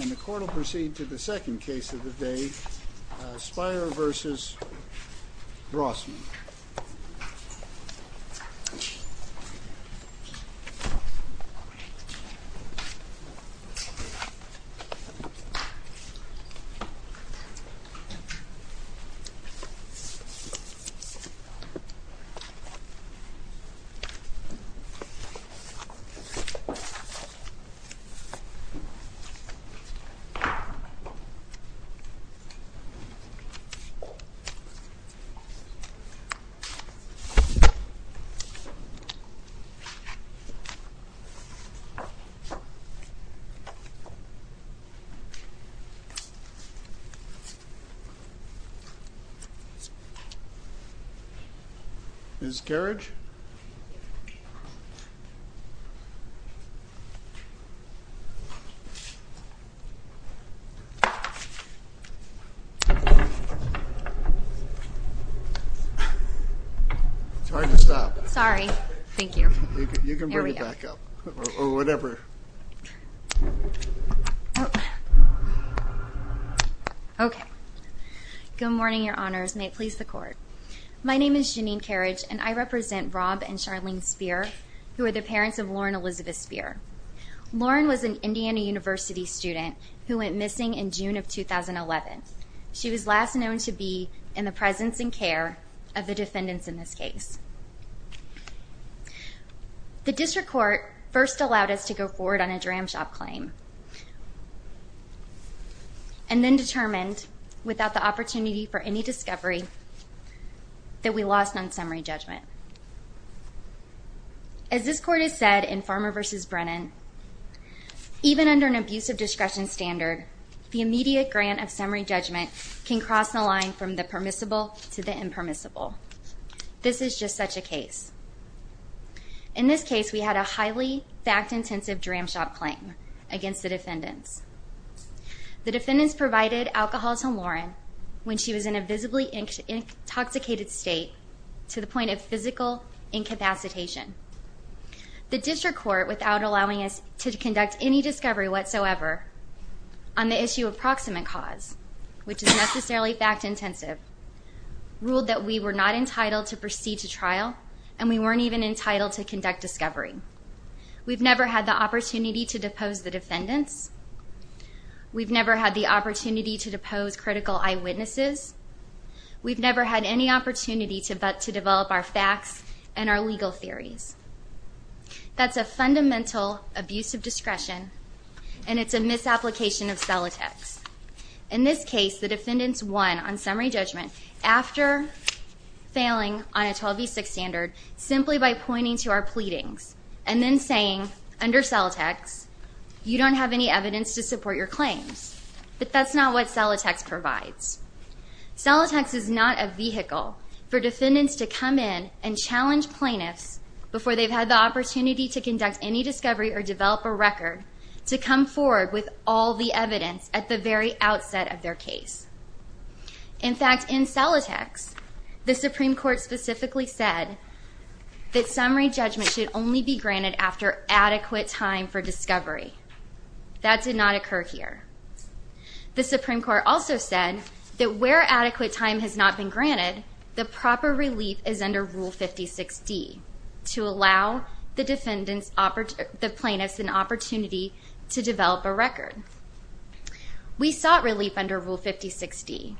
And the court will proceed to the second case of the day, Spierer v. Rossman. The case of the day is Spierer v. Rossman. It's hard to stop. Sorry. Thank you. There we go. You can bring it back up. Or whatever. Okay. Good morning, your honors. May it please the court. My name is Janine Carriage, and I represent Rob and Charlene Spierer, who are the parents of Lauren Elizabeth Spierer. Lauren was an Indiana University student who went missing in June of 2011. She was last known to be in the presence and care of the defendants in this case. The district court first allowed us to go forward on a dram shop claim, and then determined, without the opportunity for any discovery, that we lost on summary judgment. As this court has said in Farmer v. Brennan, even under an abusive discretion standard, the immediate grant of summary judgment can cross the line from the permissible to the impermissible. This is just such a case. In this case, we had a highly fact-intensive dram shop claim against the defendants. The defendants provided alcohol to Lauren when she was in a visibly intoxicated state to the point of physical incapacitation. The district court, without allowing us to conduct any discovery whatsoever on the issue of proximate cause, which is necessarily fact-intensive, ruled that we were not entitled to proceed to trial, and we weren't even entitled to conduct discovery. We've never had the opportunity to depose the defendants. We've never had the opportunity to depose critical eyewitnesses. We've never had any opportunity to develop our facts and our legal theories. That's a fundamental abusive discretion, and it's a misapplication of Celotex. In this case, the defendants won on summary judgment after failing on a 12v6 standard simply by pointing to our pleadings and then saying, under Celotex, you don't have any evidence to support your claims. But that's not what Celotex provides. Celotex is not a vehicle for defendants to come in and challenge plaintiffs before they've had the opportunity to conduct any discovery or develop a record to come forward with all the evidence at the very outset of their case. In fact, in Celotex, the Supreme Court specifically said that summary judgment should only be granted after adequate time for discovery. That did not occur here. The Supreme Court also said that where adequate time has not been granted, the proper relief is under Rule 56D to allow the plaintiffs an opportunity to develop a record. We sought relief under Rule 56D,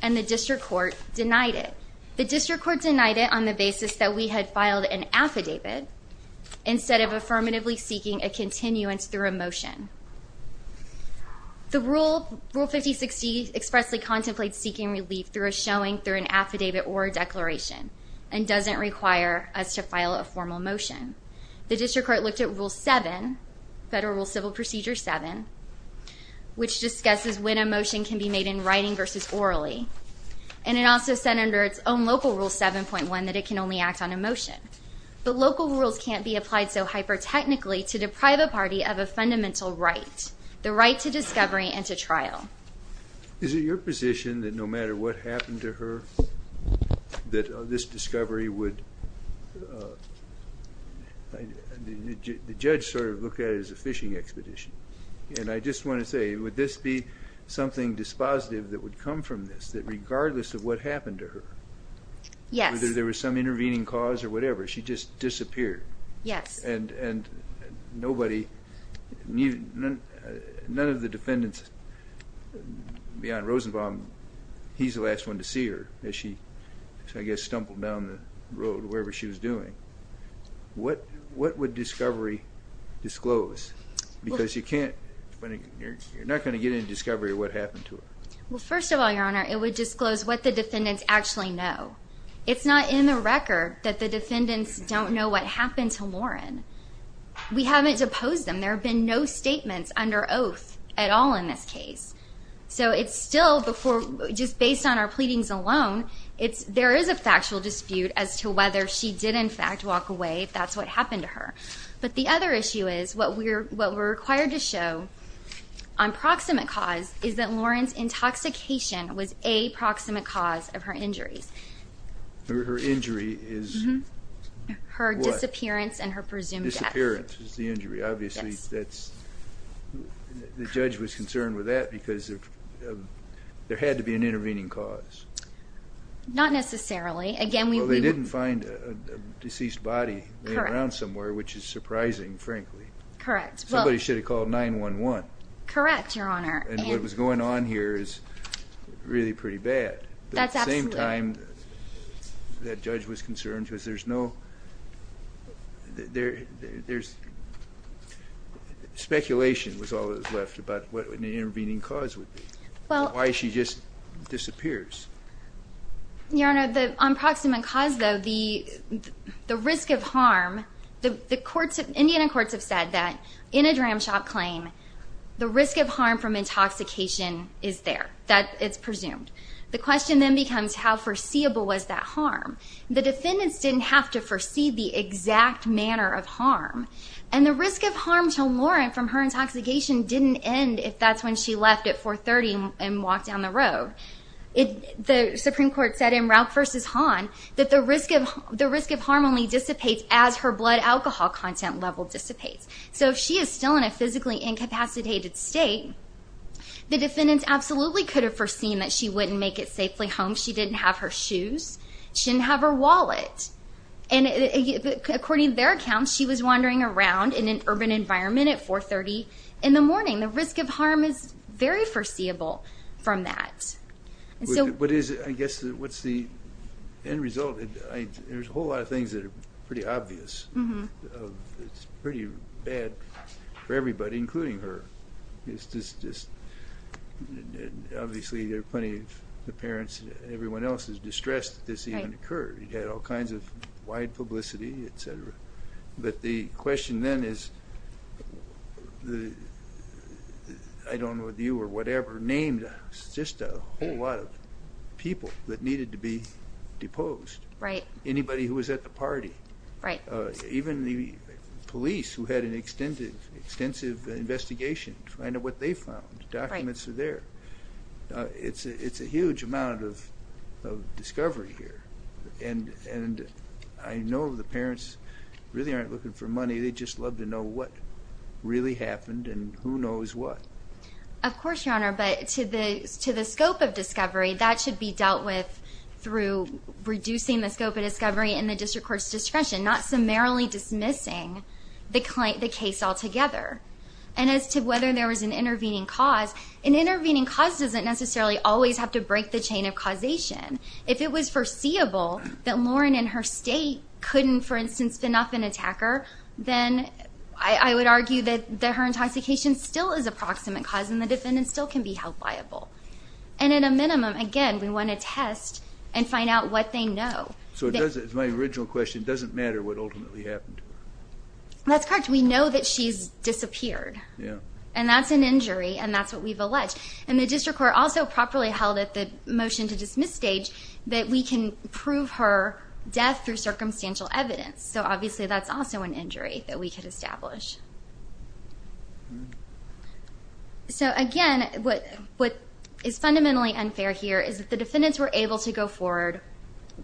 and the district court denied it. The district court denied it on the basis that we had filed an affidavit instead of affirmatively seeking a continuance through a motion. Rule 56D expressly contemplates seeking relief through a showing, through an affidavit, or a declaration, and doesn't require us to file a formal motion. The district court looked at Federal Rule Civil Procedure 7, which discusses when a motion can be made in writing versus orally, and it also said under its own local Rule 7.1 that it can only act on a motion. But local rules can't be applied so hyper-technically to deprive a party of a fundamental right, the right to discovery and to trial. Is it your position that no matter what happened to her, that this discovery would – the judge sort of looked at it as a fishing expedition. And I just want to say, would this be something dispositive that would come from this, that regardless of what happened to her, whether there was some intervening cause or whatever, she just disappeared? Yes. And nobody – none of the defendants beyond Rosenbaum, he's the last one to see her, as she, I guess, stumbled down the road or wherever she was doing. What would discovery disclose? Because you can't – you're not going to get any discovery of what happened to her. Well, first of all, Your Honor, it would disclose what the defendants actually know. It's not in the record that the defendants don't know what happened to Lauren. We haven't deposed them. There have been no statements under oath at all in this case. So it's still before – just based on our pleadings alone, there is a factual dispute as to whether she did, in fact, walk away, if that's what happened to her. But the other issue is what we're required to show on proximate cause is that Lauren's intoxication was a proximate cause of her injuries. Her injury is what? Her disappearance and her presumed death. Disappearance is the injury. Obviously, that's – the judge was concerned with that because there had to be an intervening cause. Not necessarily. Well, they didn't find a deceased body laying around somewhere, which is surprising, frankly. Correct. Somebody should have called 911. Correct, Your Honor. And what was going on here is really pretty bad. That's absolutely. But at the same time, that judge was concerned because there's no – speculation was all that was left about what an intervening cause would be. Why she just disappears. Your Honor, the – on proximate cause, though, the risk of harm – the courts – Indiana courts have said that in a dram shop claim, the risk of harm from intoxication is there. That it's presumed. The question then becomes how foreseeable was that harm? The defendants didn't have to foresee the exact manner of harm. And the risk of harm to Lauren from her intoxication didn't end if that's when she left at 430 and walked down the road. The Supreme Court said in Rauch v. Hahn that the risk of harm only dissipates as her blood alcohol content level dissipates. So if she is still in a physically incapacitated state, the defendants absolutely could have foreseen that she wouldn't make it safely home. She didn't have her shoes. She didn't have her wallet. And according to their accounts, she was wandering around in an urban environment at 430 in the morning. The risk of harm is very foreseeable from that. But is – I guess what's the end result? There's a whole lot of things that are pretty obvious. It's pretty bad for everybody, including her. It's just obviously there are plenty of parents, everyone else is distressed that this even occurred. It had all kinds of wide publicity, et cetera. But the question then is I don't know if you or whatever named just a whole lot of people that needed to be deposed. Right. Anybody who was at the party. Right. Even the police who had an extensive investigation to find out what they found. Documents are there. It's a huge amount of discovery here. And I know the parents really aren't looking for money. They just love to know what really happened and who knows what. Of course, Your Honor, but to the scope of discovery, that should be dealt with through reducing the scope of discovery and the district court's discretion, not summarily dismissing the case altogether. And as to whether there was an intervening cause, an intervening cause doesn't necessarily always have to break the chain of causation. If it was foreseeable that Lauren in her state couldn't, for instance, spin off an attacker, then I would argue that her intoxication still is a proximate cause and the defendant still can be held liable. And at a minimum, again, we want to test and find out what they know. So does it, as my original question, doesn't matter what ultimately happened? That's correct. We know that she's disappeared. And that's an injury and that's what we've alleged. And the district court also properly held at the motion to dismiss stage that we can prove her death through circumstantial evidence. So obviously that's also an injury that we could establish. So, again, what is fundamentally unfair here is that the defendants were able to go forward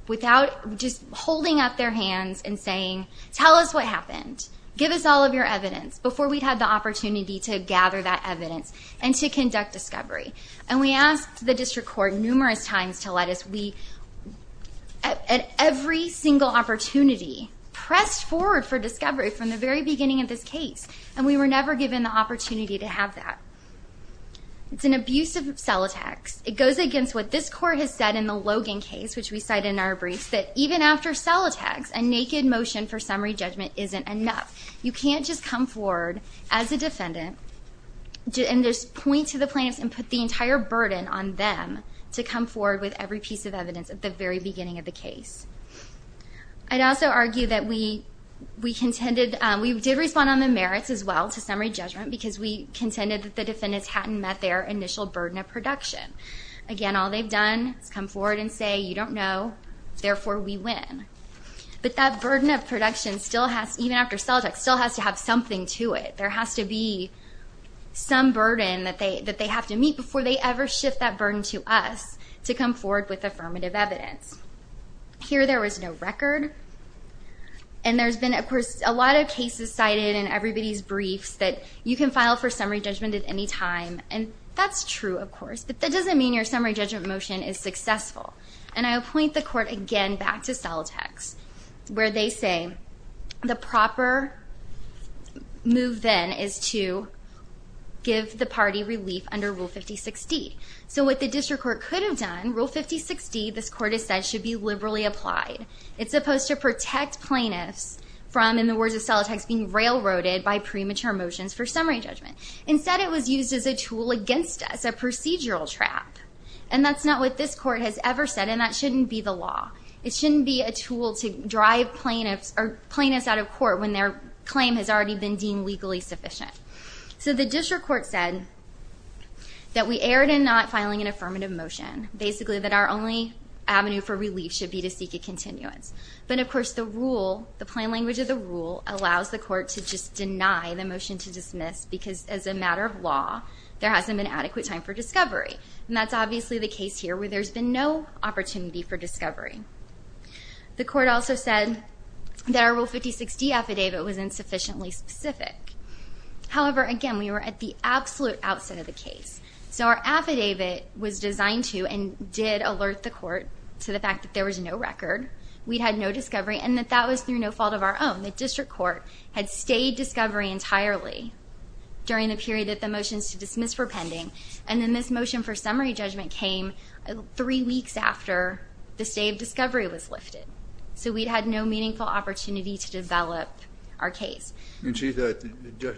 without just holding up their hands and saying, tell us what happened, give us all of your evidence, before we'd had the opportunity to gather that evidence and to conduct discovery. And we asked the district court numerous times to let us. We, at every single opportunity, pressed forward for discovery from the very beginning of this case, and we were never given the opportunity to have that. It's an abuse of cell text. It goes against what this court has said in the Logan case, which we cite in our briefs, that even after cell text, a naked motion for summary judgment isn't enough. You can't just come forward as a defendant and just point to the plaintiffs and put the entire burden on them to come forward with every piece of evidence at the very beginning of the case. I'd also argue that we contended we did respond on the merits as well to summary judgment because we contended that the defendants hadn't met their initial burden of production. Again, all they've done is come forward and say, you don't know, therefore we win. But that burden of production, even after cell text, still has to have something to it. There has to be some burden that they have to meet before they ever shift that burden to us to come forward with affirmative evidence. Here there was no record, and there's been, of course, a lot of cases cited in everybody's briefs that you can file for summary judgment at any time, and that's true, of course, but that doesn't mean your summary judgment motion is successful. And I would point the court again back to cell text, where they say the proper move then is to give the party relief under Rule 5060. So what the district court could have done, Rule 5060, this court has said, should be liberally applied. It's supposed to protect plaintiffs from, in the words of cell text, being railroaded by premature motions for summary judgment. Instead it was used as a tool against us, a procedural trap. And that's not what this court has ever said, and that shouldn't be the law. It shouldn't be a tool to drive plaintiffs out of court when their claim has already been deemed legally sufficient. So the district court said that we erred in not filing an affirmative motion, basically that our only avenue for relief should be to seek a continuance. But, of course, the rule, the plain language of the rule, allows the court to just deny the motion to dismiss because, as a matter of law, there hasn't been adequate time for discovery. And that's obviously the case here where there's been no opportunity for discovery. The court also said that our Rule 5060 affidavit was insufficiently specific. However, again, we were at the absolute outset of the case. So our affidavit was designed to and did alert the court to the fact that there was no record, we'd had no discovery, and that that was through no fault of our own. The district court had stayed discovery entirely during the period that the motions to dismiss were pending. And then this motion for summary judgment came three weeks after the stay of discovery was lifted. So we'd had no meaningful opportunity to develop our case. And so the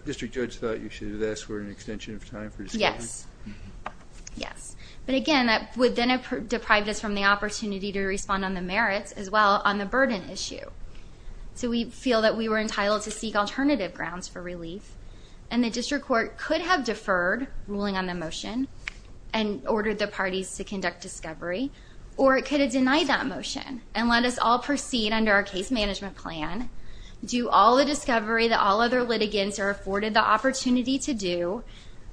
district judge thought you should have asked for an extension of time for discovery? Yes. Yes. But, again, that would then have deprived us from the opportunity to respond on the merits as well on the burden issue. So we feel that we were entitled to seek alternative grounds for relief. And the district court could have deferred ruling on the motion and ordered the parties to conduct discovery, or it could have denied that motion and let us all proceed under our case management plan, do all the discovery that all other litigants are afforded the opportunity to do,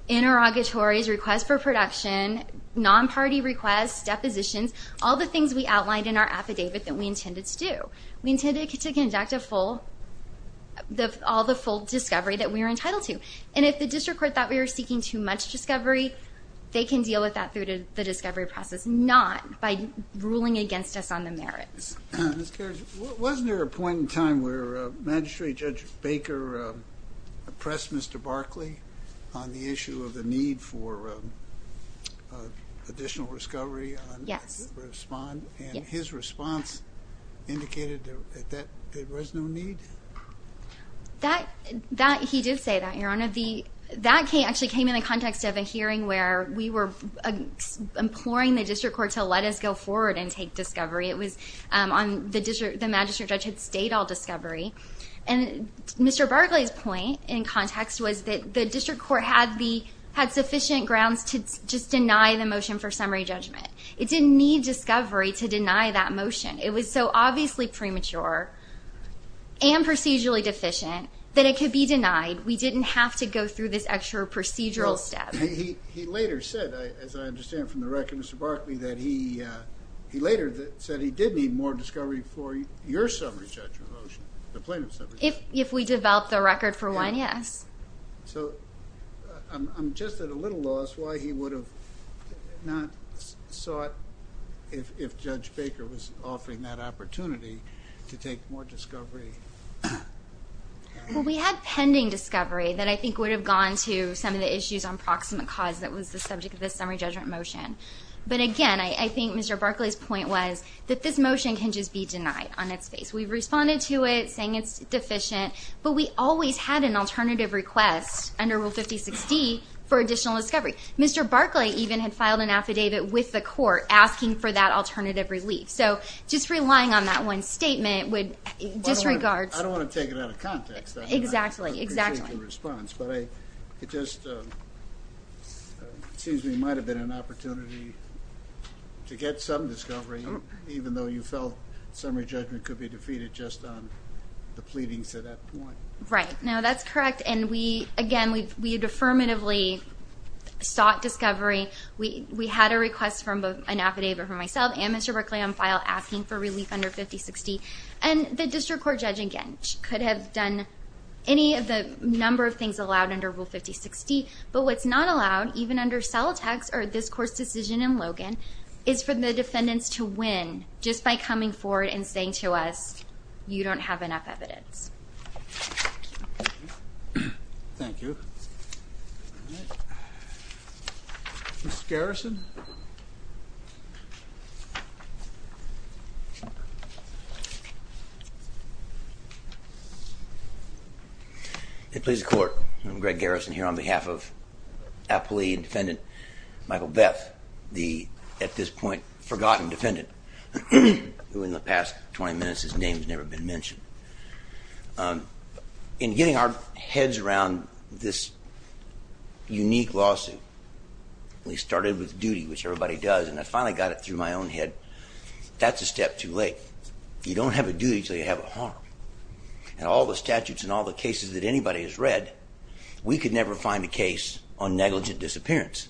interrogatories, requests for production, non-party requests, depositions, all the things we outlined in our affidavit that we intended to do. We intended to conduct all the full discovery that we were entitled to. And if the district court thought we were seeking too much discovery, they can deal with that through the discovery process, not by ruling against us on the merits. Ms. Karras, wasn't there a point in time where Magistrate Judge Baker pressed Mr. Barkley on the issue of the need for additional discovery? Yes. And his response indicated that there was no need? He did say that, Your Honor. That actually came in the context of a hearing where we were imploring the district court to let us go forward and take discovery. The magistrate judge had stayed all discovery. Mr. Barkley's point in context was that the district court had sufficient grounds to just deny the motion for summary judgment. It didn't need discovery to deny that motion. It was so obviously premature and procedurally deficient that it could be denied. We didn't have to go through this extra procedural step. He later said, as I understand from the record, Mr. Barkley, he later said he did need more discovery for your summary judgment motion, the plaintiff's summary judgment motion. If we develop the record for one, yes. So I'm just at a little loss why he would have not sought, if Judge Baker was offering that opportunity, to take more discovery. Well, we had pending discovery that I think would have gone to some of the issues on proximate cause that was the subject of this summary judgment motion. But, again, I think Mr. Barkley's point was that this motion can just be denied on its face. We responded to it saying it's deficient, but we always had an alternative request under Rule 5060 for additional discovery. Mr. Barkley even had filed an affidavit with the court asking for that alternative relief. So just relying on that one statement would disregard. I don't want to take it out of context. Exactly. I appreciate your response. But it just seems to me it might have been an opportunity to get some discovery, even though you felt summary judgment could be defeated just on the pleadings at that point. Right. No, that's correct. And, again, we affirmatively sought discovery. We had a request from an affidavit from myself and Mr. Barkley on file asking for relief under 5060. And the district court judge, again, could have done any of the number of things allowed under Rule 5060. But what's not allowed, even under Celotex or this court's decision in Logan, is for the defendants to win just by coming forward and saying to us, you don't have enough evidence. Thank you. All right. Mr. Garrison. It pleases the court. I'm Greg Garrison here on behalf of appellee and defendant Michael Beth, the at this point forgotten defendant, who in the past 20 minutes his name has never been mentioned. In getting our heads around this unique lawsuit, we started with duty, which everybody does, and I finally got it through my own head. That's a step too late. You don't have a duty until you have a harm. And all the statutes and all the cases that anybody has read, we could never find a case on negligent disappearance.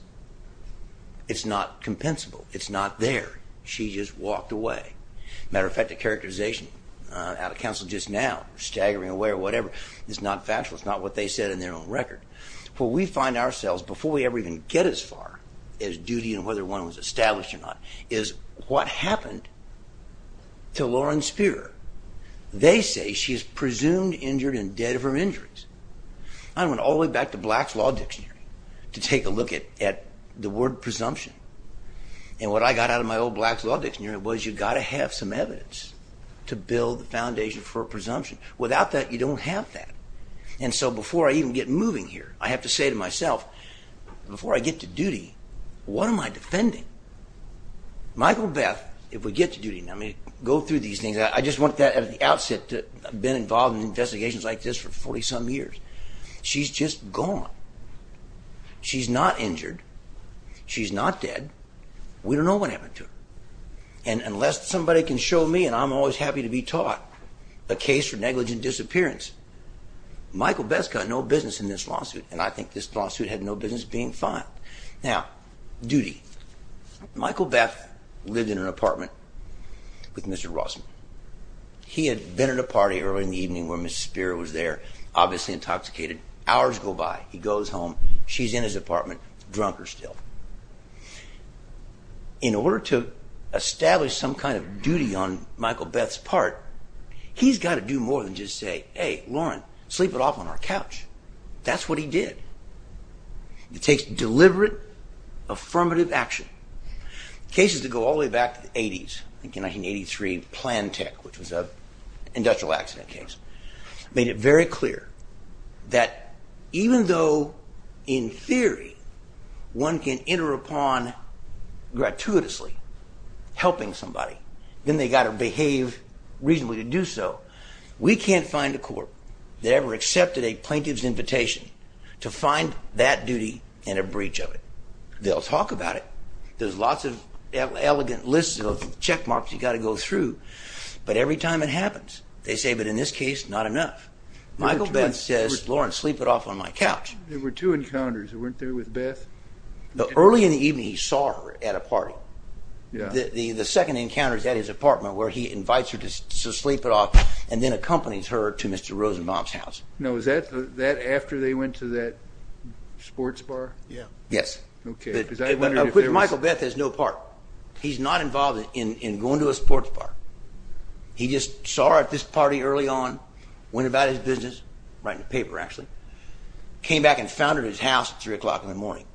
It's not compensable. It's not there. She just walked away. Matter of fact, the characterization out of counsel just now, staggering away or whatever, is not factual. It's not what they said in their own record. What we find ourselves, before we ever even get as far as duty and whether one was established or not, is what happened to Lauren Spear. They say she is presumed injured and dead of her injuries. I went all the way back to Black's Law Dictionary to take a look at the word presumption. And what I got out of my old Black's Law Dictionary was you've got to have some evidence to build the foundation for a presumption. Without that, you don't have that. And so before I even get moving here, I have to say to myself, before I get to duty, what am I defending? Michael Beth, if we get to duty, let me go through these things. I just want that at the outset that I've been involved in investigations like this for 40-some years. She's just gone. She's not injured. She's not dead. We don't know what happened to her. And unless somebody can show me, and I'm always happy to be taught, a case for negligent disappearance, Michael Beth's got no business in this lawsuit, and I think this lawsuit had no business being filed. Now, duty. Michael Beth lived in an apartment with Mr. Rossman. He had been at a party earlier in the evening where Ms. Spear was there, obviously intoxicated. Hours go by. He goes home. She's in his apartment, drunker still. In order to establish some kind of duty on Michael Beth's part, he's got to do more than just say, hey, Lauren, sleep it off on our couch. That's what he did. It takes deliberate, affirmative action. Cases that go all the way back to the 80s, I think in 1983, Plantech, which was an industrial accident case, made it very clear that even though in theory one can enter upon gratuitously helping somebody, then they've got to behave reasonably to do so. We can't find a court that ever accepted a plaintiff's invitation to find that duty and a breach of it. They'll talk about it. There's lots of elegant lists of checkmarks you've got to go through. But every time it happens, they say, but in this case, not enough. Michael Beth says, Lauren, sleep it off on my couch. There were two encounters. You weren't there with Beth? Early in the evening he saw her at a party. The second encounter is at his apartment where he invites her to sleep it off and then accompanies her to Mr. Rosenbaum's house. Now, is that after they went to that sports bar? Yes. Michael Beth has no part. He's not involved in going to a sports bar. He just saw her at this party early on, went about his business, writing a paper actually, came back and found her at his house at 3 o'clock in the morning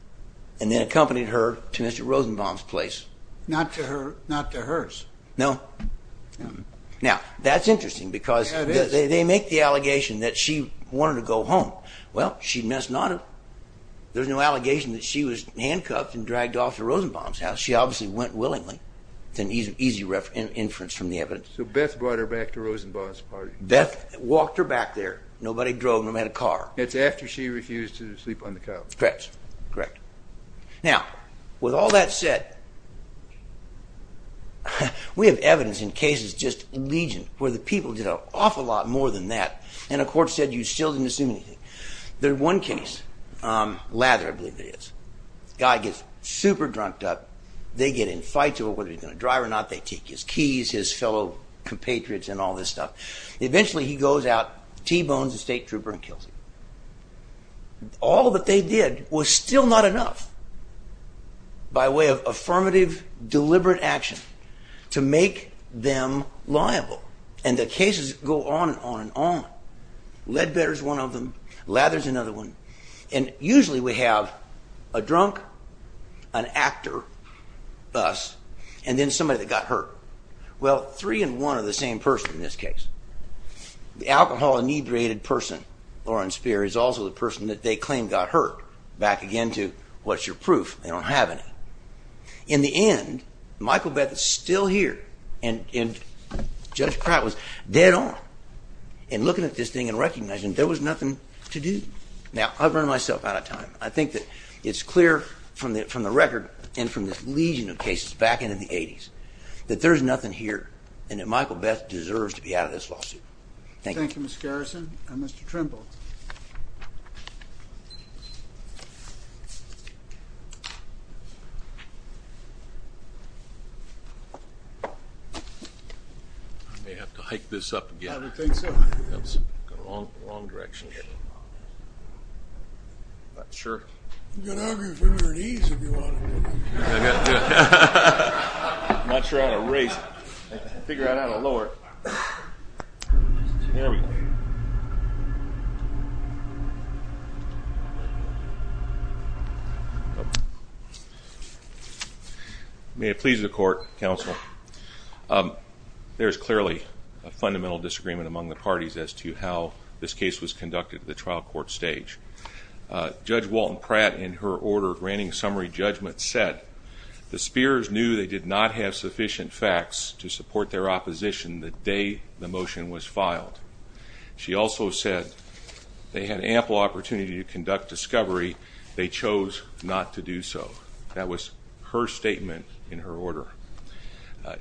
and then accompanied her to Mr. Rosenbaum's place. Not to hers. No. Now, that's interesting because they make the allegation that she wanted to go home. Well, she messed not up. There's no allegation that she was handcuffed and dragged off to Rosenbaum's house. She obviously went willingly. It's an easy inference from the evidence. So Beth brought her back to Rosenbaum's party. Beth walked her back there. Nobody drove, nobody had a car. It's after she refused to sleep on the couch. Correct. Now, with all that said, we have evidence in cases just legion where the people did an awful lot more than that and a court said you still didn't assume anything. There's one case. Lather, I believe it is. Guy gets super drunked up. They get in fights over whether he's going to drive or not. They take his keys, his fellow compatriots and all this stuff. Eventually he goes out, T-bones the state trooper and kills him. All that they did was still not enough by way of affirmative, deliberate action to make them liable. And the cases go on and on and on. Ledbetter's one of them. Lather's another one. And usually we have a drunk, an actor, us, and then somebody that got hurt. Well, three and one are the same person in this case. The alcohol-inebriated person, Lauren Speer, is also the person that they claim got hurt. Back again to what's your proof? They don't have any. In the end, Michael Beth is still here. And Judge Pratt was dead on. And looking at this thing and recognizing there was nothing to do. Now, I've run myself out of time. I think that it's clear from the record and from this legion of cases back in the 80s that there's nothing here and that Michael Beth deserves to be out of this lawsuit. Thank you. Thank you, Mr. Garrison. Mr. Trimble. I may have to hike this up again. I would think so. That's the wrong direction. I'm not sure. You can argue for your knees if you want to. I'm not sure how to raise it. I can figure out how to lower it. There we go. May it please the court, counsel. There's clearly a fundamental disagreement among the parties as to how this case was conducted at the trial court stage. Judge Walton Pratt, in her order granting summary judgment, said the Speers knew they did not have sufficient facts to support their opposition the day the motion was filed. She also said they had ample opportunity to conduct discovery. They chose not to do so. That was her statement in her order.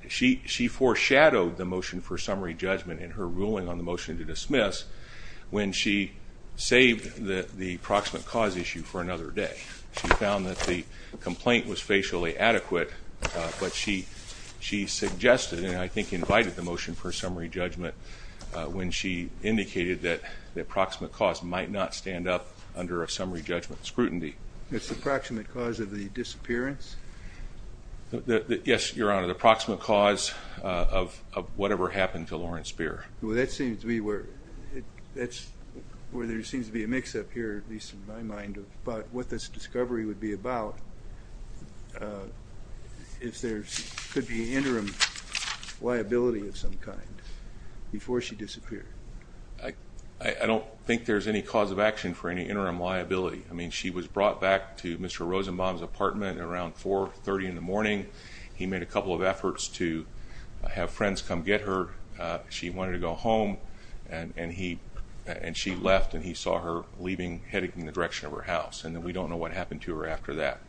She foreshadowed the motion for summary judgment in her ruling on the motion to dismiss when she saved the proximate cause issue for another day. She found that the complaint was facially adequate, but she suggested and I think invited the motion for summary judgment when she indicated that the approximate cause might not stand up under a summary judgment scrutiny. It's the approximate cause of the disappearance? Yes, Your Honor. The approximate cause of whatever happened to Lauren Speer. That seems to be where there seems to be a mix-up here, at least in my mind, about what this discovery would be about. If there could be an interim liability of some kind before she disappeared. I don't think there's any cause of action for any interim liability. I mean, she was brought back to Mr. Rosenbaum's apartment around 4.30 in the morning. He made a couple of efforts to have friends come get her. She wanted to go home, and she left, and he saw her leaving heading in the direction of her house, and we don't know what happened to her after that.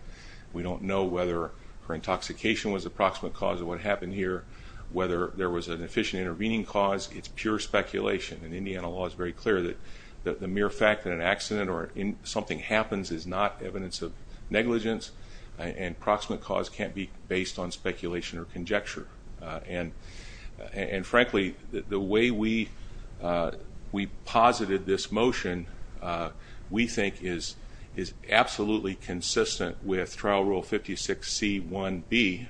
We don't know whether her intoxication was a proximate cause of what happened here, whether there was an efficient intervening cause. It's pure speculation, and Indiana law is very clear that the mere fact that an accident or something happens is not evidence of negligence, and proximate cause can't be based on speculation or conjecture. And frankly, the way we posited this motion, we think is absolutely consistent with trial rule 56C1B,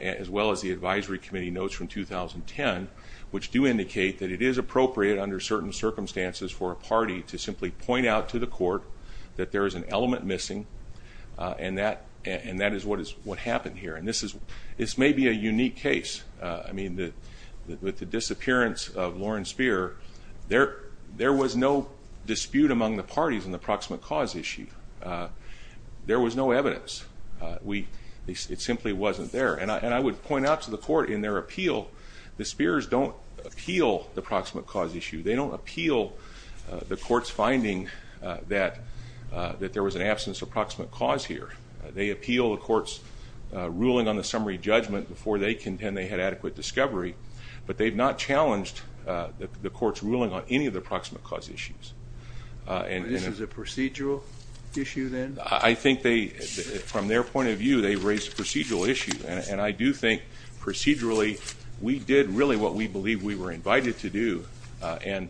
as well as the advisory committee notes from 2010, which do indicate that it is appropriate under certain circumstances for a party to simply point out to the court that there is an element missing, and that is what happened here. This may be a unique case. With the disappearance of Lauren Speer, there was no dispute among the parties on the proximate cause issue. There was no evidence. It simply wasn't there. And I would point out to the court in their appeal, the Speers don't appeal the proximate cause issue. They don't appeal the court's finding that there was an absence of proximate cause here. They appeal the court's ruling on the summary judgment before they contend they had adequate discovery, but they've not challenged the court's ruling on any of the proximate cause issues. This is a procedural issue then? I think from their point of view, they've raised a procedural issue, and I do think procedurally we did really what we believed we were invited to do. And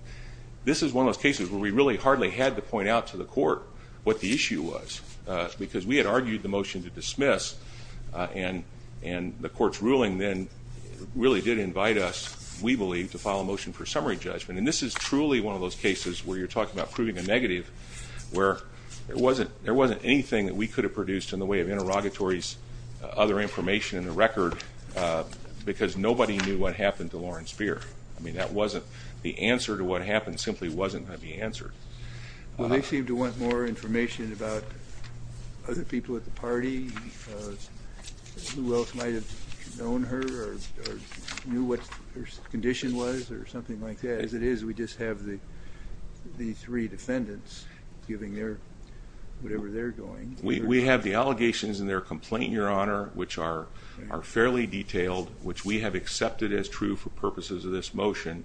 this is one of those cases where we really hardly had to point out to the court and the court's ruling then really did invite us, we believe, to file a motion for summary judgment. And this is truly one of those cases where you're talking about proving a negative where there wasn't anything that we could have produced in the way of interrogatories, other information in the record, because nobody knew what happened to Lauren Speer. I mean, the answer to what happened simply wasn't going to be answered. Well, they seem to want more information about other people at the party, who else might have known her or knew what her condition was or something like that. As it is, we just have the three defendants giving whatever they're doing. We have the allegations in their complaint, Your Honor, which are fairly detailed, which we have accepted as true for purposes of this motion.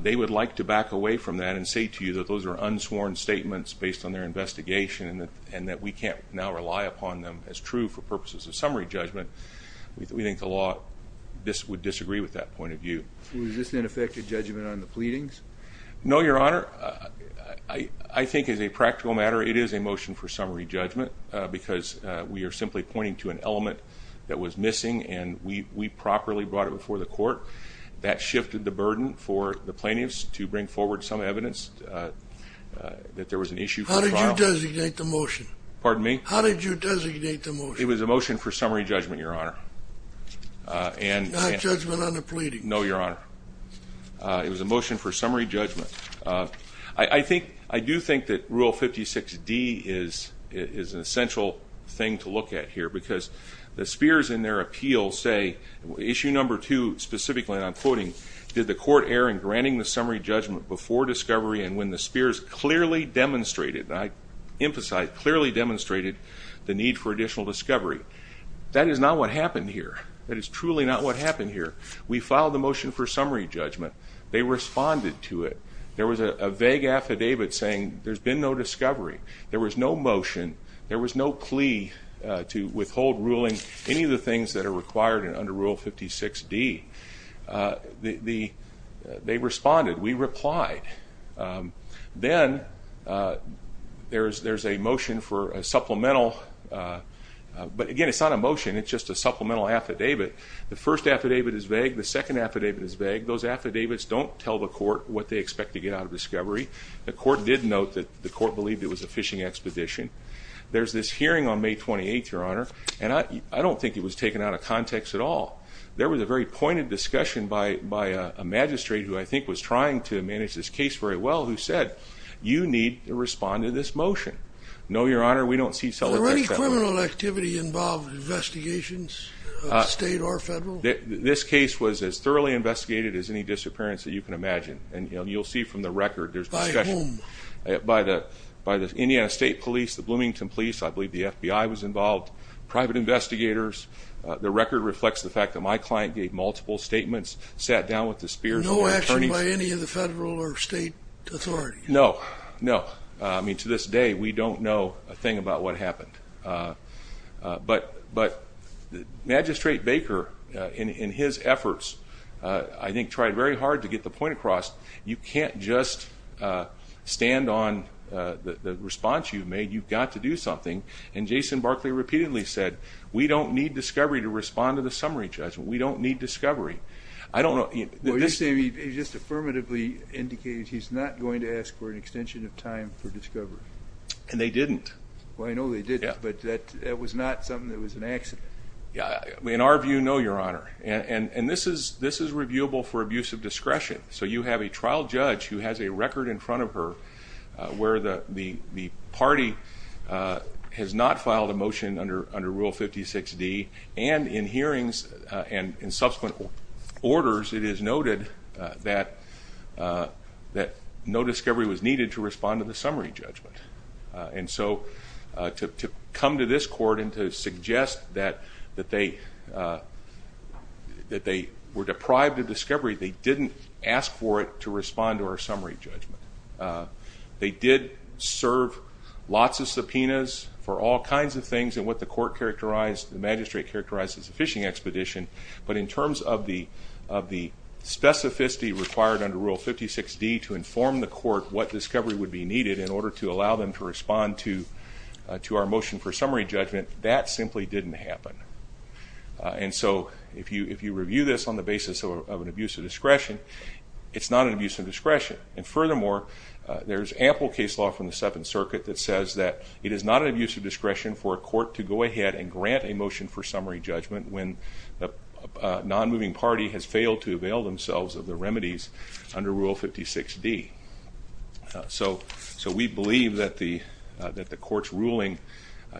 They would like to back away from that and say to you that those are unsworn statements based on their investigation and that we can't now rely upon them as true for purposes of summary judgment. We think the law would disagree with that point of view. Was this an effective judgment on the pleadings? No, Your Honor. I think as a practical matter, it is a motion for summary judgment because we are simply pointing to an element that was missing and we properly brought it before the court. That shifted the burden for the plaintiffs to bring forward some evidence that there was an issue. How did you designate the motion? Pardon me? How did you designate the motion? It was a motion for summary judgment, Your Honor. Not judgment on the pleadings? No, Your Honor. It was a motion for summary judgment. I do think that Rule 56D is an essential thing to look at here because the Spears in their appeal say issue number two specifically, and I'm quoting, did the court err in granting the summary judgment before discovery and when the Spears clearly demonstrated, and I emphasize clearly demonstrated, the need for additional discovery. That is not what happened here. That is truly not what happened here. We filed the motion for summary judgment. They responded to it. There was a vague affidavit saying there's been no discovery. There was no motion. There was no plea to withhold ruling any of the things that are required under Rule 56D. They responded. We replied. Then there's a motion for a supplemental, but, again, it's not a motion. It's just a supplemental affidavit. The first affidavit is vague. The second affidavit is vague. Those affidavits don't tell the court what they expect to get out of discovery. The court did note that the court believed it was a fishing expedition. There's this hearing on May 28th, Your Honor, and I don't think it was taken out of context at all. There was a very pointed discussion by a magistrate, who I think was trying to manage this case very well, who said you need to respond to this motion. No, Your Honor, we don't see cell attacks that way. Were there any criminal activity involved in investigations, state or federal? This case was as thoroughly investigated as any disappearance that you can imagine, and you'll see from the record there's discussion. By whom? By the Indiana State Police, the Bloomington Police. I believe the FBI was involved, private investigators. The record reflects the fact that my client gave multiple statements, sat down with the spearhead attorneys. No action by any of the federal or state authorities? No, no. I mean, to this day, we don't know a thing about what happened. But Magistrate Baker, in his efforts, I think tried very hard to get the point across. You can't just stand on the response you've made. You've got to do something. And Jason Barkley repeatedly said, we don't need discovery to respond to the summary judgment. We don't need discovery. I don't know. Well, you say he just affirmatively indicated he's not going to ask for an extension of time for discovery. And they didn't. Well, I know they didn't, but that was not something that was an accident. In our view, no, Your Honor. And this is reviewable for abuse of discretion. So you have a trial judge who has a record in front of her where the party has not filed a motion under Rule 56D, and in hearings and in subsequent orders, it is noted that no discovery was needed to respond to the summary judgment. And so to come to this court and to suggest that they were deprived of discovery, they didn't ask for it to respond to our summary judgment. They did serve lots of subpoenas for all kinds of things, and what the court characterized, the magistrate characterized as a fishing expedition. But in terms of the specificity required under Rule 56D to inform the court to allow them to respond to our motion for summary judgment, that simply didn't happen. And so if you review this on the basis of an abuse of discretion, it's not an abuse of discretion. And furthermore, there's ample case law from the Seventh Circuit that says that it is not an abuse of discretion for a court to go ahead and grant a motion for summary judgment when the non-moving party has failed to avail themselves of the remedies under Rule 56D. So we believe that the court's ruling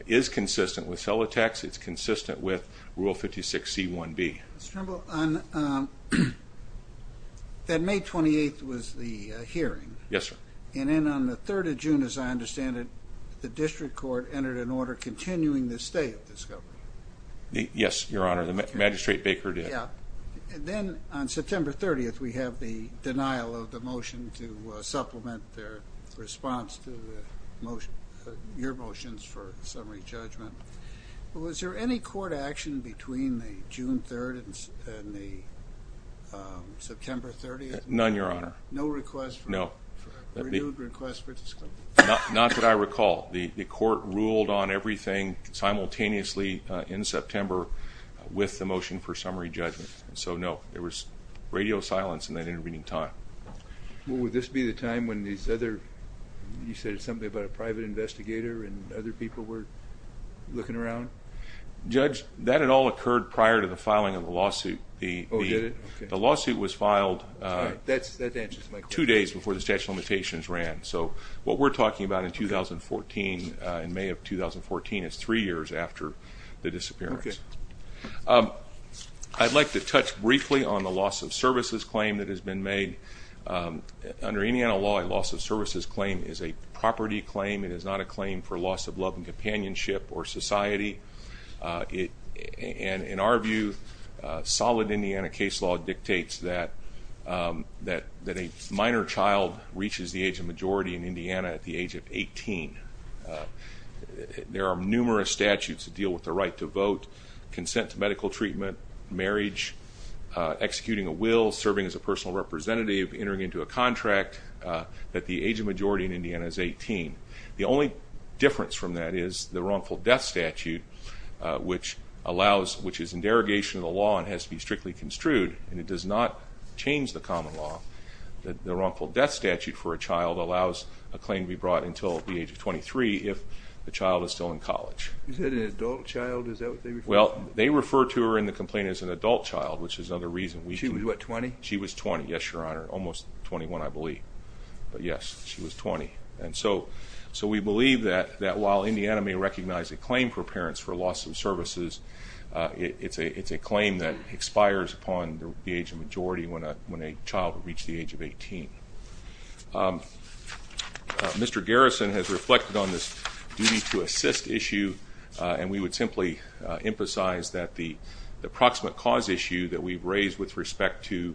is consistent with Celotax. It's consistent with Rule 56C1B. Mr. Trimble, on that May 28th was the hearing. Yes, sir. And then on the 3rd of June, as I understand it, the district court entered an order continuing the stay of discovery. Yes, Your Honor, the magistrate Baker did. Yeah. And then on September 30th, we have the denial of the motion to supplement their response to your motions for summary judgment. Was there any court action between the June 3rd and the September 30th? None, Your Honor. No request for a renewed request for discovery? Not that I recall. The court ruled on everything simultaneously in September with the motion for summary judgment. So, no, there was radio silence in that intervening time. Would this be the time when these other, you said something about a private investigator and other people were looking around? Judge, that had all occurred prior to the filing of the lawsuit. Oh, did it? The lawsuit was filed two days before the statute of limitations ran. So what we're talking about in 2014, in May of 2014 is three years after the disappearance. Okay. I'd like to touch briefly on the loss of services claim that has been made. Under Indiana law, a loss of services claim is a property claim. It is not a claim for loss of love and companionship or society. And in our view, solid Indiana case law dictates that a minor child reaches the age of majority in Indiana at the age of 18. There are numerous statutes that deal with the right to vote, consent to medical treatment, marriage, executing a will, serving as a personal representative, entering into a contract, that the age of majority in Indiana is 18. The only difference from that is the wrongful death statute, which is in derogation of the law and has to be strictly construed, and it does not change the common law. The wrongful death statute for a child allows a claim to be brought until the age of 23 if the child is still in college. Is that an adult child? Is that what they refer to? Well, they refer to her in the complaint as an adult child, which is another reason we do. She was, what, 20? She was 20, yes, Your Honor, almost 21, I believe. But, yes, she was 20. And so we believe that while Indiana may recognize a claim for parents for loss of services, it's a claim that expires upon the age of majority when a child would reach the age of 18. Mr. Garrison has reflected on this duty-to-assist issue, and we would simply emphasize that the approximate cause issue that we've raised with respect to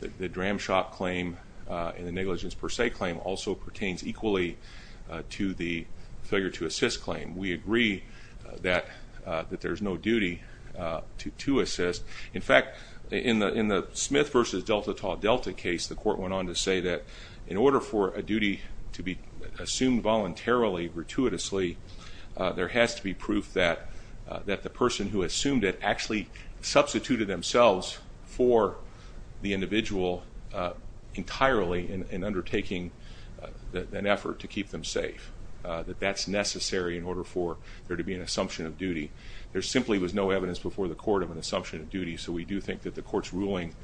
the Dramshock claim and the negligence per se claim also pertains equally to the failure-to-assist claim. We agree that there's no duty to assist. In fact, in the Smith v. Delta Tau Delta case, the court went on to say that in order for a duty to be assumed voluntarily, gratuitously, there has to be proof that the person who assumed it actually substituted themselves for the individual entirely in undertaking an effort to keep them safe, that that's necessary in order for there to be an assumption of duty. There simply was no evidence before the court of an assumption of duty, so we do think that the court's ruling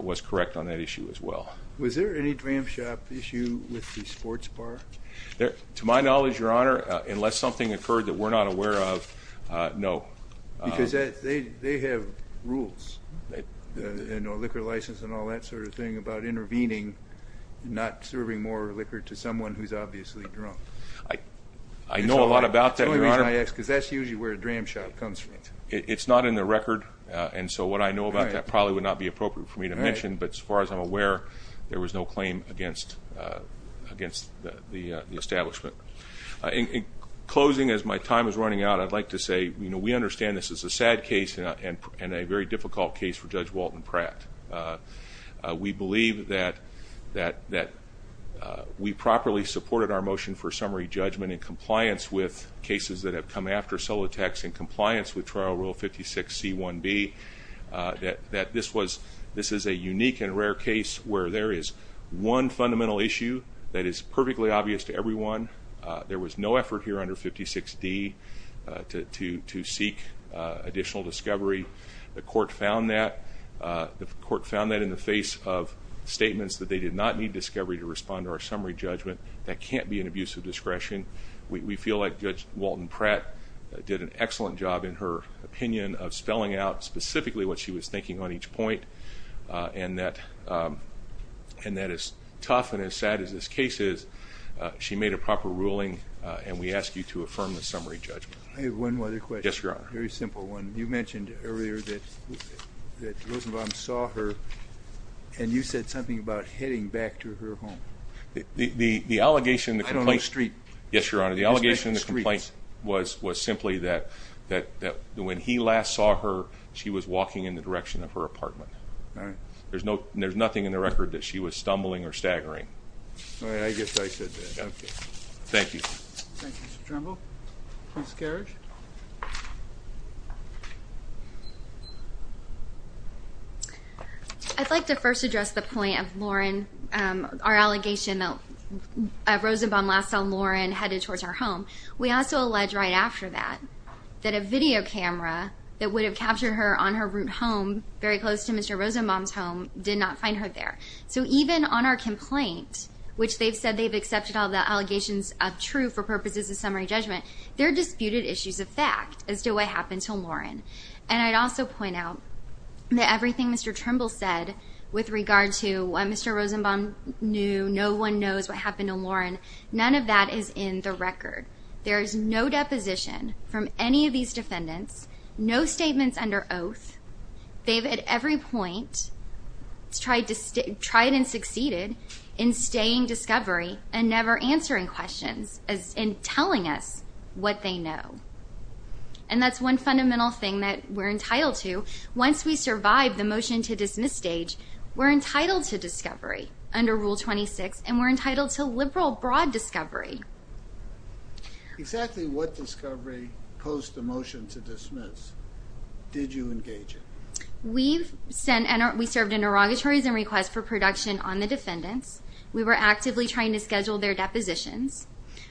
was correct on that issue as well. Was there any Dramshock issue with the sports bar? To my knowledge, Your Honor, unless something occurred that we're not aware of, no. Because they have rules, a liquor license and all that sort of thing about intervening, not serving more liquor to someone who's obviously drunk. I know a lot about that, Your Honor. That's the only reason I ask, because that's usually where Dramshock comes from. It's not in the record, and so what I know about that probably would not be appropriate for me to mention, but as far as I'm aware, there was no claim against the establishment. In closing, as my time is running out, I'd like to say we understand this is a sad case and a very difficult case for Judge Walton Pratt. We believe that we properly supported our motion for summary judgment in compliance with that this is a unique and rare case where there is one fundamental issue that is perfectly obvious to everyone. There was no effort here under 56D to seek additional discovery. The court found that in the face of statements that they did not need discovery to respond to our summary judgment. That can't be an abuse of discretion. We feel like Judge Walton Pratt did an excellent job in her opinion of spelling out specifically what she was thinking on each point and that as tough and as sad as this case is, she made a proper ruling, and we ask you to affirm the summary judgment. I have one other question. Yes, Your Honor. A very simple one. You mentioned earlier that Rosenbaum saw her, and you said something about heading back to her home. I don't know the street. Yes, Your Honor. The allegation in the complaint was simply that when he last saw her, she was walking in the direction of her apartment. All right. There's nothing in the record that she was stumbling or staggering. All right. I guess I said that. Okay. Thank you. Thank you, Mr. Trimble. Ms. Karrasch? I'd like to first address the point of our allegation that Rosenbaum last saw Lauren headed towards her home. We also allege right after that that a video camera that would have captured her on her route home, very close to Mr. Rosenbaum's home, did not find her there. So even on our complaint, which they've said they've accepted all the allegations of true for purposes of summary judgment, there are disputed issues of fact as to what happened to Lauren. And I'd also point out that everything Mr. Trimble said with regard to what Mr. Rosenbaum knew, no one knows what happened to Lauren, none of that is in the record. There is no deposition from any of these defendants, no statements under oath. They've at every point tried and succeeded in staying discovery and never answering questions and telling us what they know. And that's one fundamental thing that we're entitled to. Once we survive the motion-to-dismiss stage, we're entitled to discovery under Rule 26, and we're entitled to liberal broad discovery. Exactly what discovery post the motion to dismiss did you engage in? We served interrogatories and requests for production on the defendants. We were actively trying to schedule their depositions.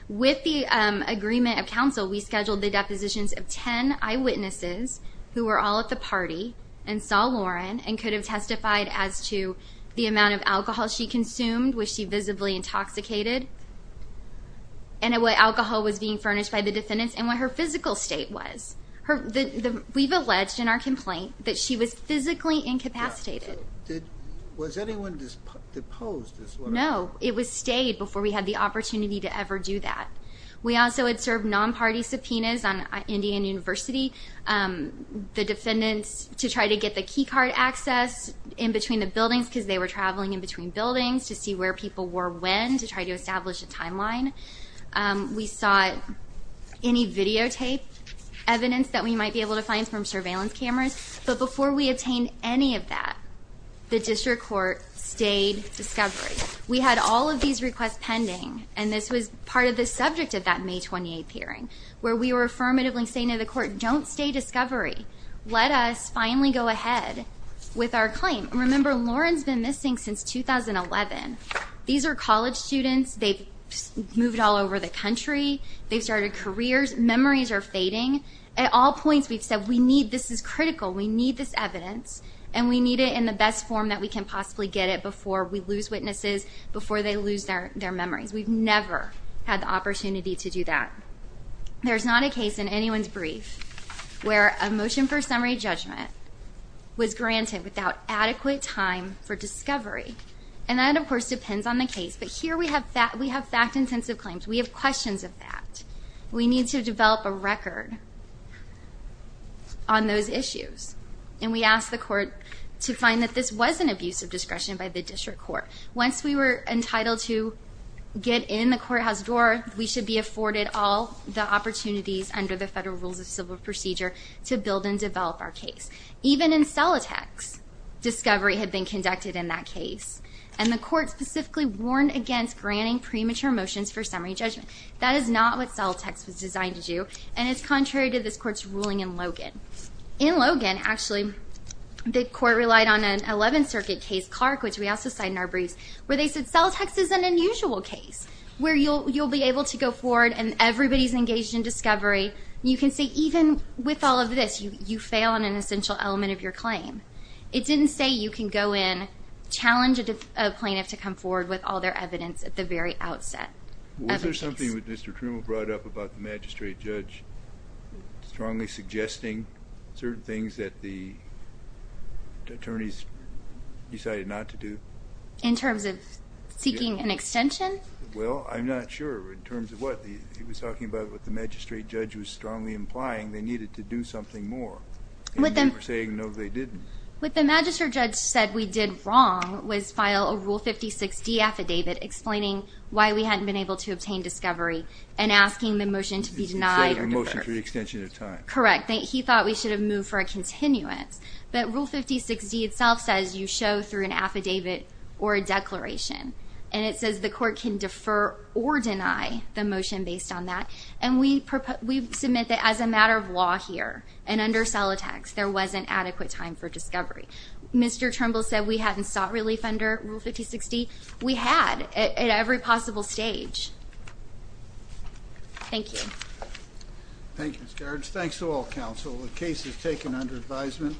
With the agreement of counsel, we scheduled the depositions of ten eyewitnesses who were all at the party and saw Lauren and could have testified as to the amount of alcohol she consumed, which she visibly intoxicated, and what alcohol was being furnished by the defendants, and what her physical state was. We've alleged in our complaint that she was physically incapacitated. Was anyone deposed? No. It was stayed before we had the opportunity to ever do that. We also had served non-party subpoenas on Indian University, the defendants to try to get the key card access in between the buildings because they were traveling in between buildings to see where people were when to try to establish a timeline. We sought any videotape evidence that we might be able to find from surveillance cameras. But before we obtained any of that, the district court stayed discovery. We had all of these requests pending, and this was part of the subject of that May 28th hearing, where we were affirmatively saying to the court, don't stay discovery. Let us finally go ahead with our claim. Remember, Lauren's been missing since 2011. These are college students. They've moved all over the country. They've started careers. Memories are fading. At all points we've said this is critical, we need this evidence, and we need it in the best form that we can possibly get it before we lose witnesses, before they lose their memories. We've never had the opportunity to do that. There's not a case in anyone's brief where a motion for summary judgment was granted without adequate time for discovery. And that, of course, depends on the case. But here we have fact-intensive claims. We have questions of fact. We need to develop a record on those issues. And we asked the court to find that this was an abuse of discretion by the district court. Once we were entitled to get in the courthouse door, we should be afforded all the opportunities under the Federal Rules of Civil Procedure to build and develop our case. Even in Celotex, discovery had been conducted in that case, and the court specifically warned against granting premature motions for summary judgment. That is not what Celotex was designed to do, and it's contrary to this court's ruling in Logan. In Logan, actually, the court relied on an 11th Circuit case, Clark, which we also cite in our briefs, where they said, Celotex is an unusual case where you'll be able to go forward and everybody's engaged in discovery. You can say even with all of this, you fail on an essential element of your claim. It didn't say you can go in, challenge a plaintiff to come forward with all their evidence at the very outset. Was there something that Mr. Truman brought up about the magistrate judge strongly suggesting certain things that the attorneys decided not to do? In terms of seeking an extension? Well, I'm not sure in terms of what. He was talking about what the magistrate judge was strongly implying. They needed to do something more, and they were saying no they didn't. What the magistrate judge said we did wrong was file a Rule 56D affidavit explaining why we hadn't been able to obtain discovery and asking the motion to be denied or deferred. He said a motion for the extension of time. Correct. He thought we should have moved for a continuance. But Rule 56D itself says you show through an affidavit or a declaration, and it says the court can defer or deny the motion based on that. And we submit that as a matter of law here and under Celotex, there wasn't adequate time for discovery. Mr. Trumbull said we hadn't sought relief under Rule 56D. We had at every possible stage. Thank you. Thank you, Ms. Gards. Thanks to all counsel. The case is taken under advisement.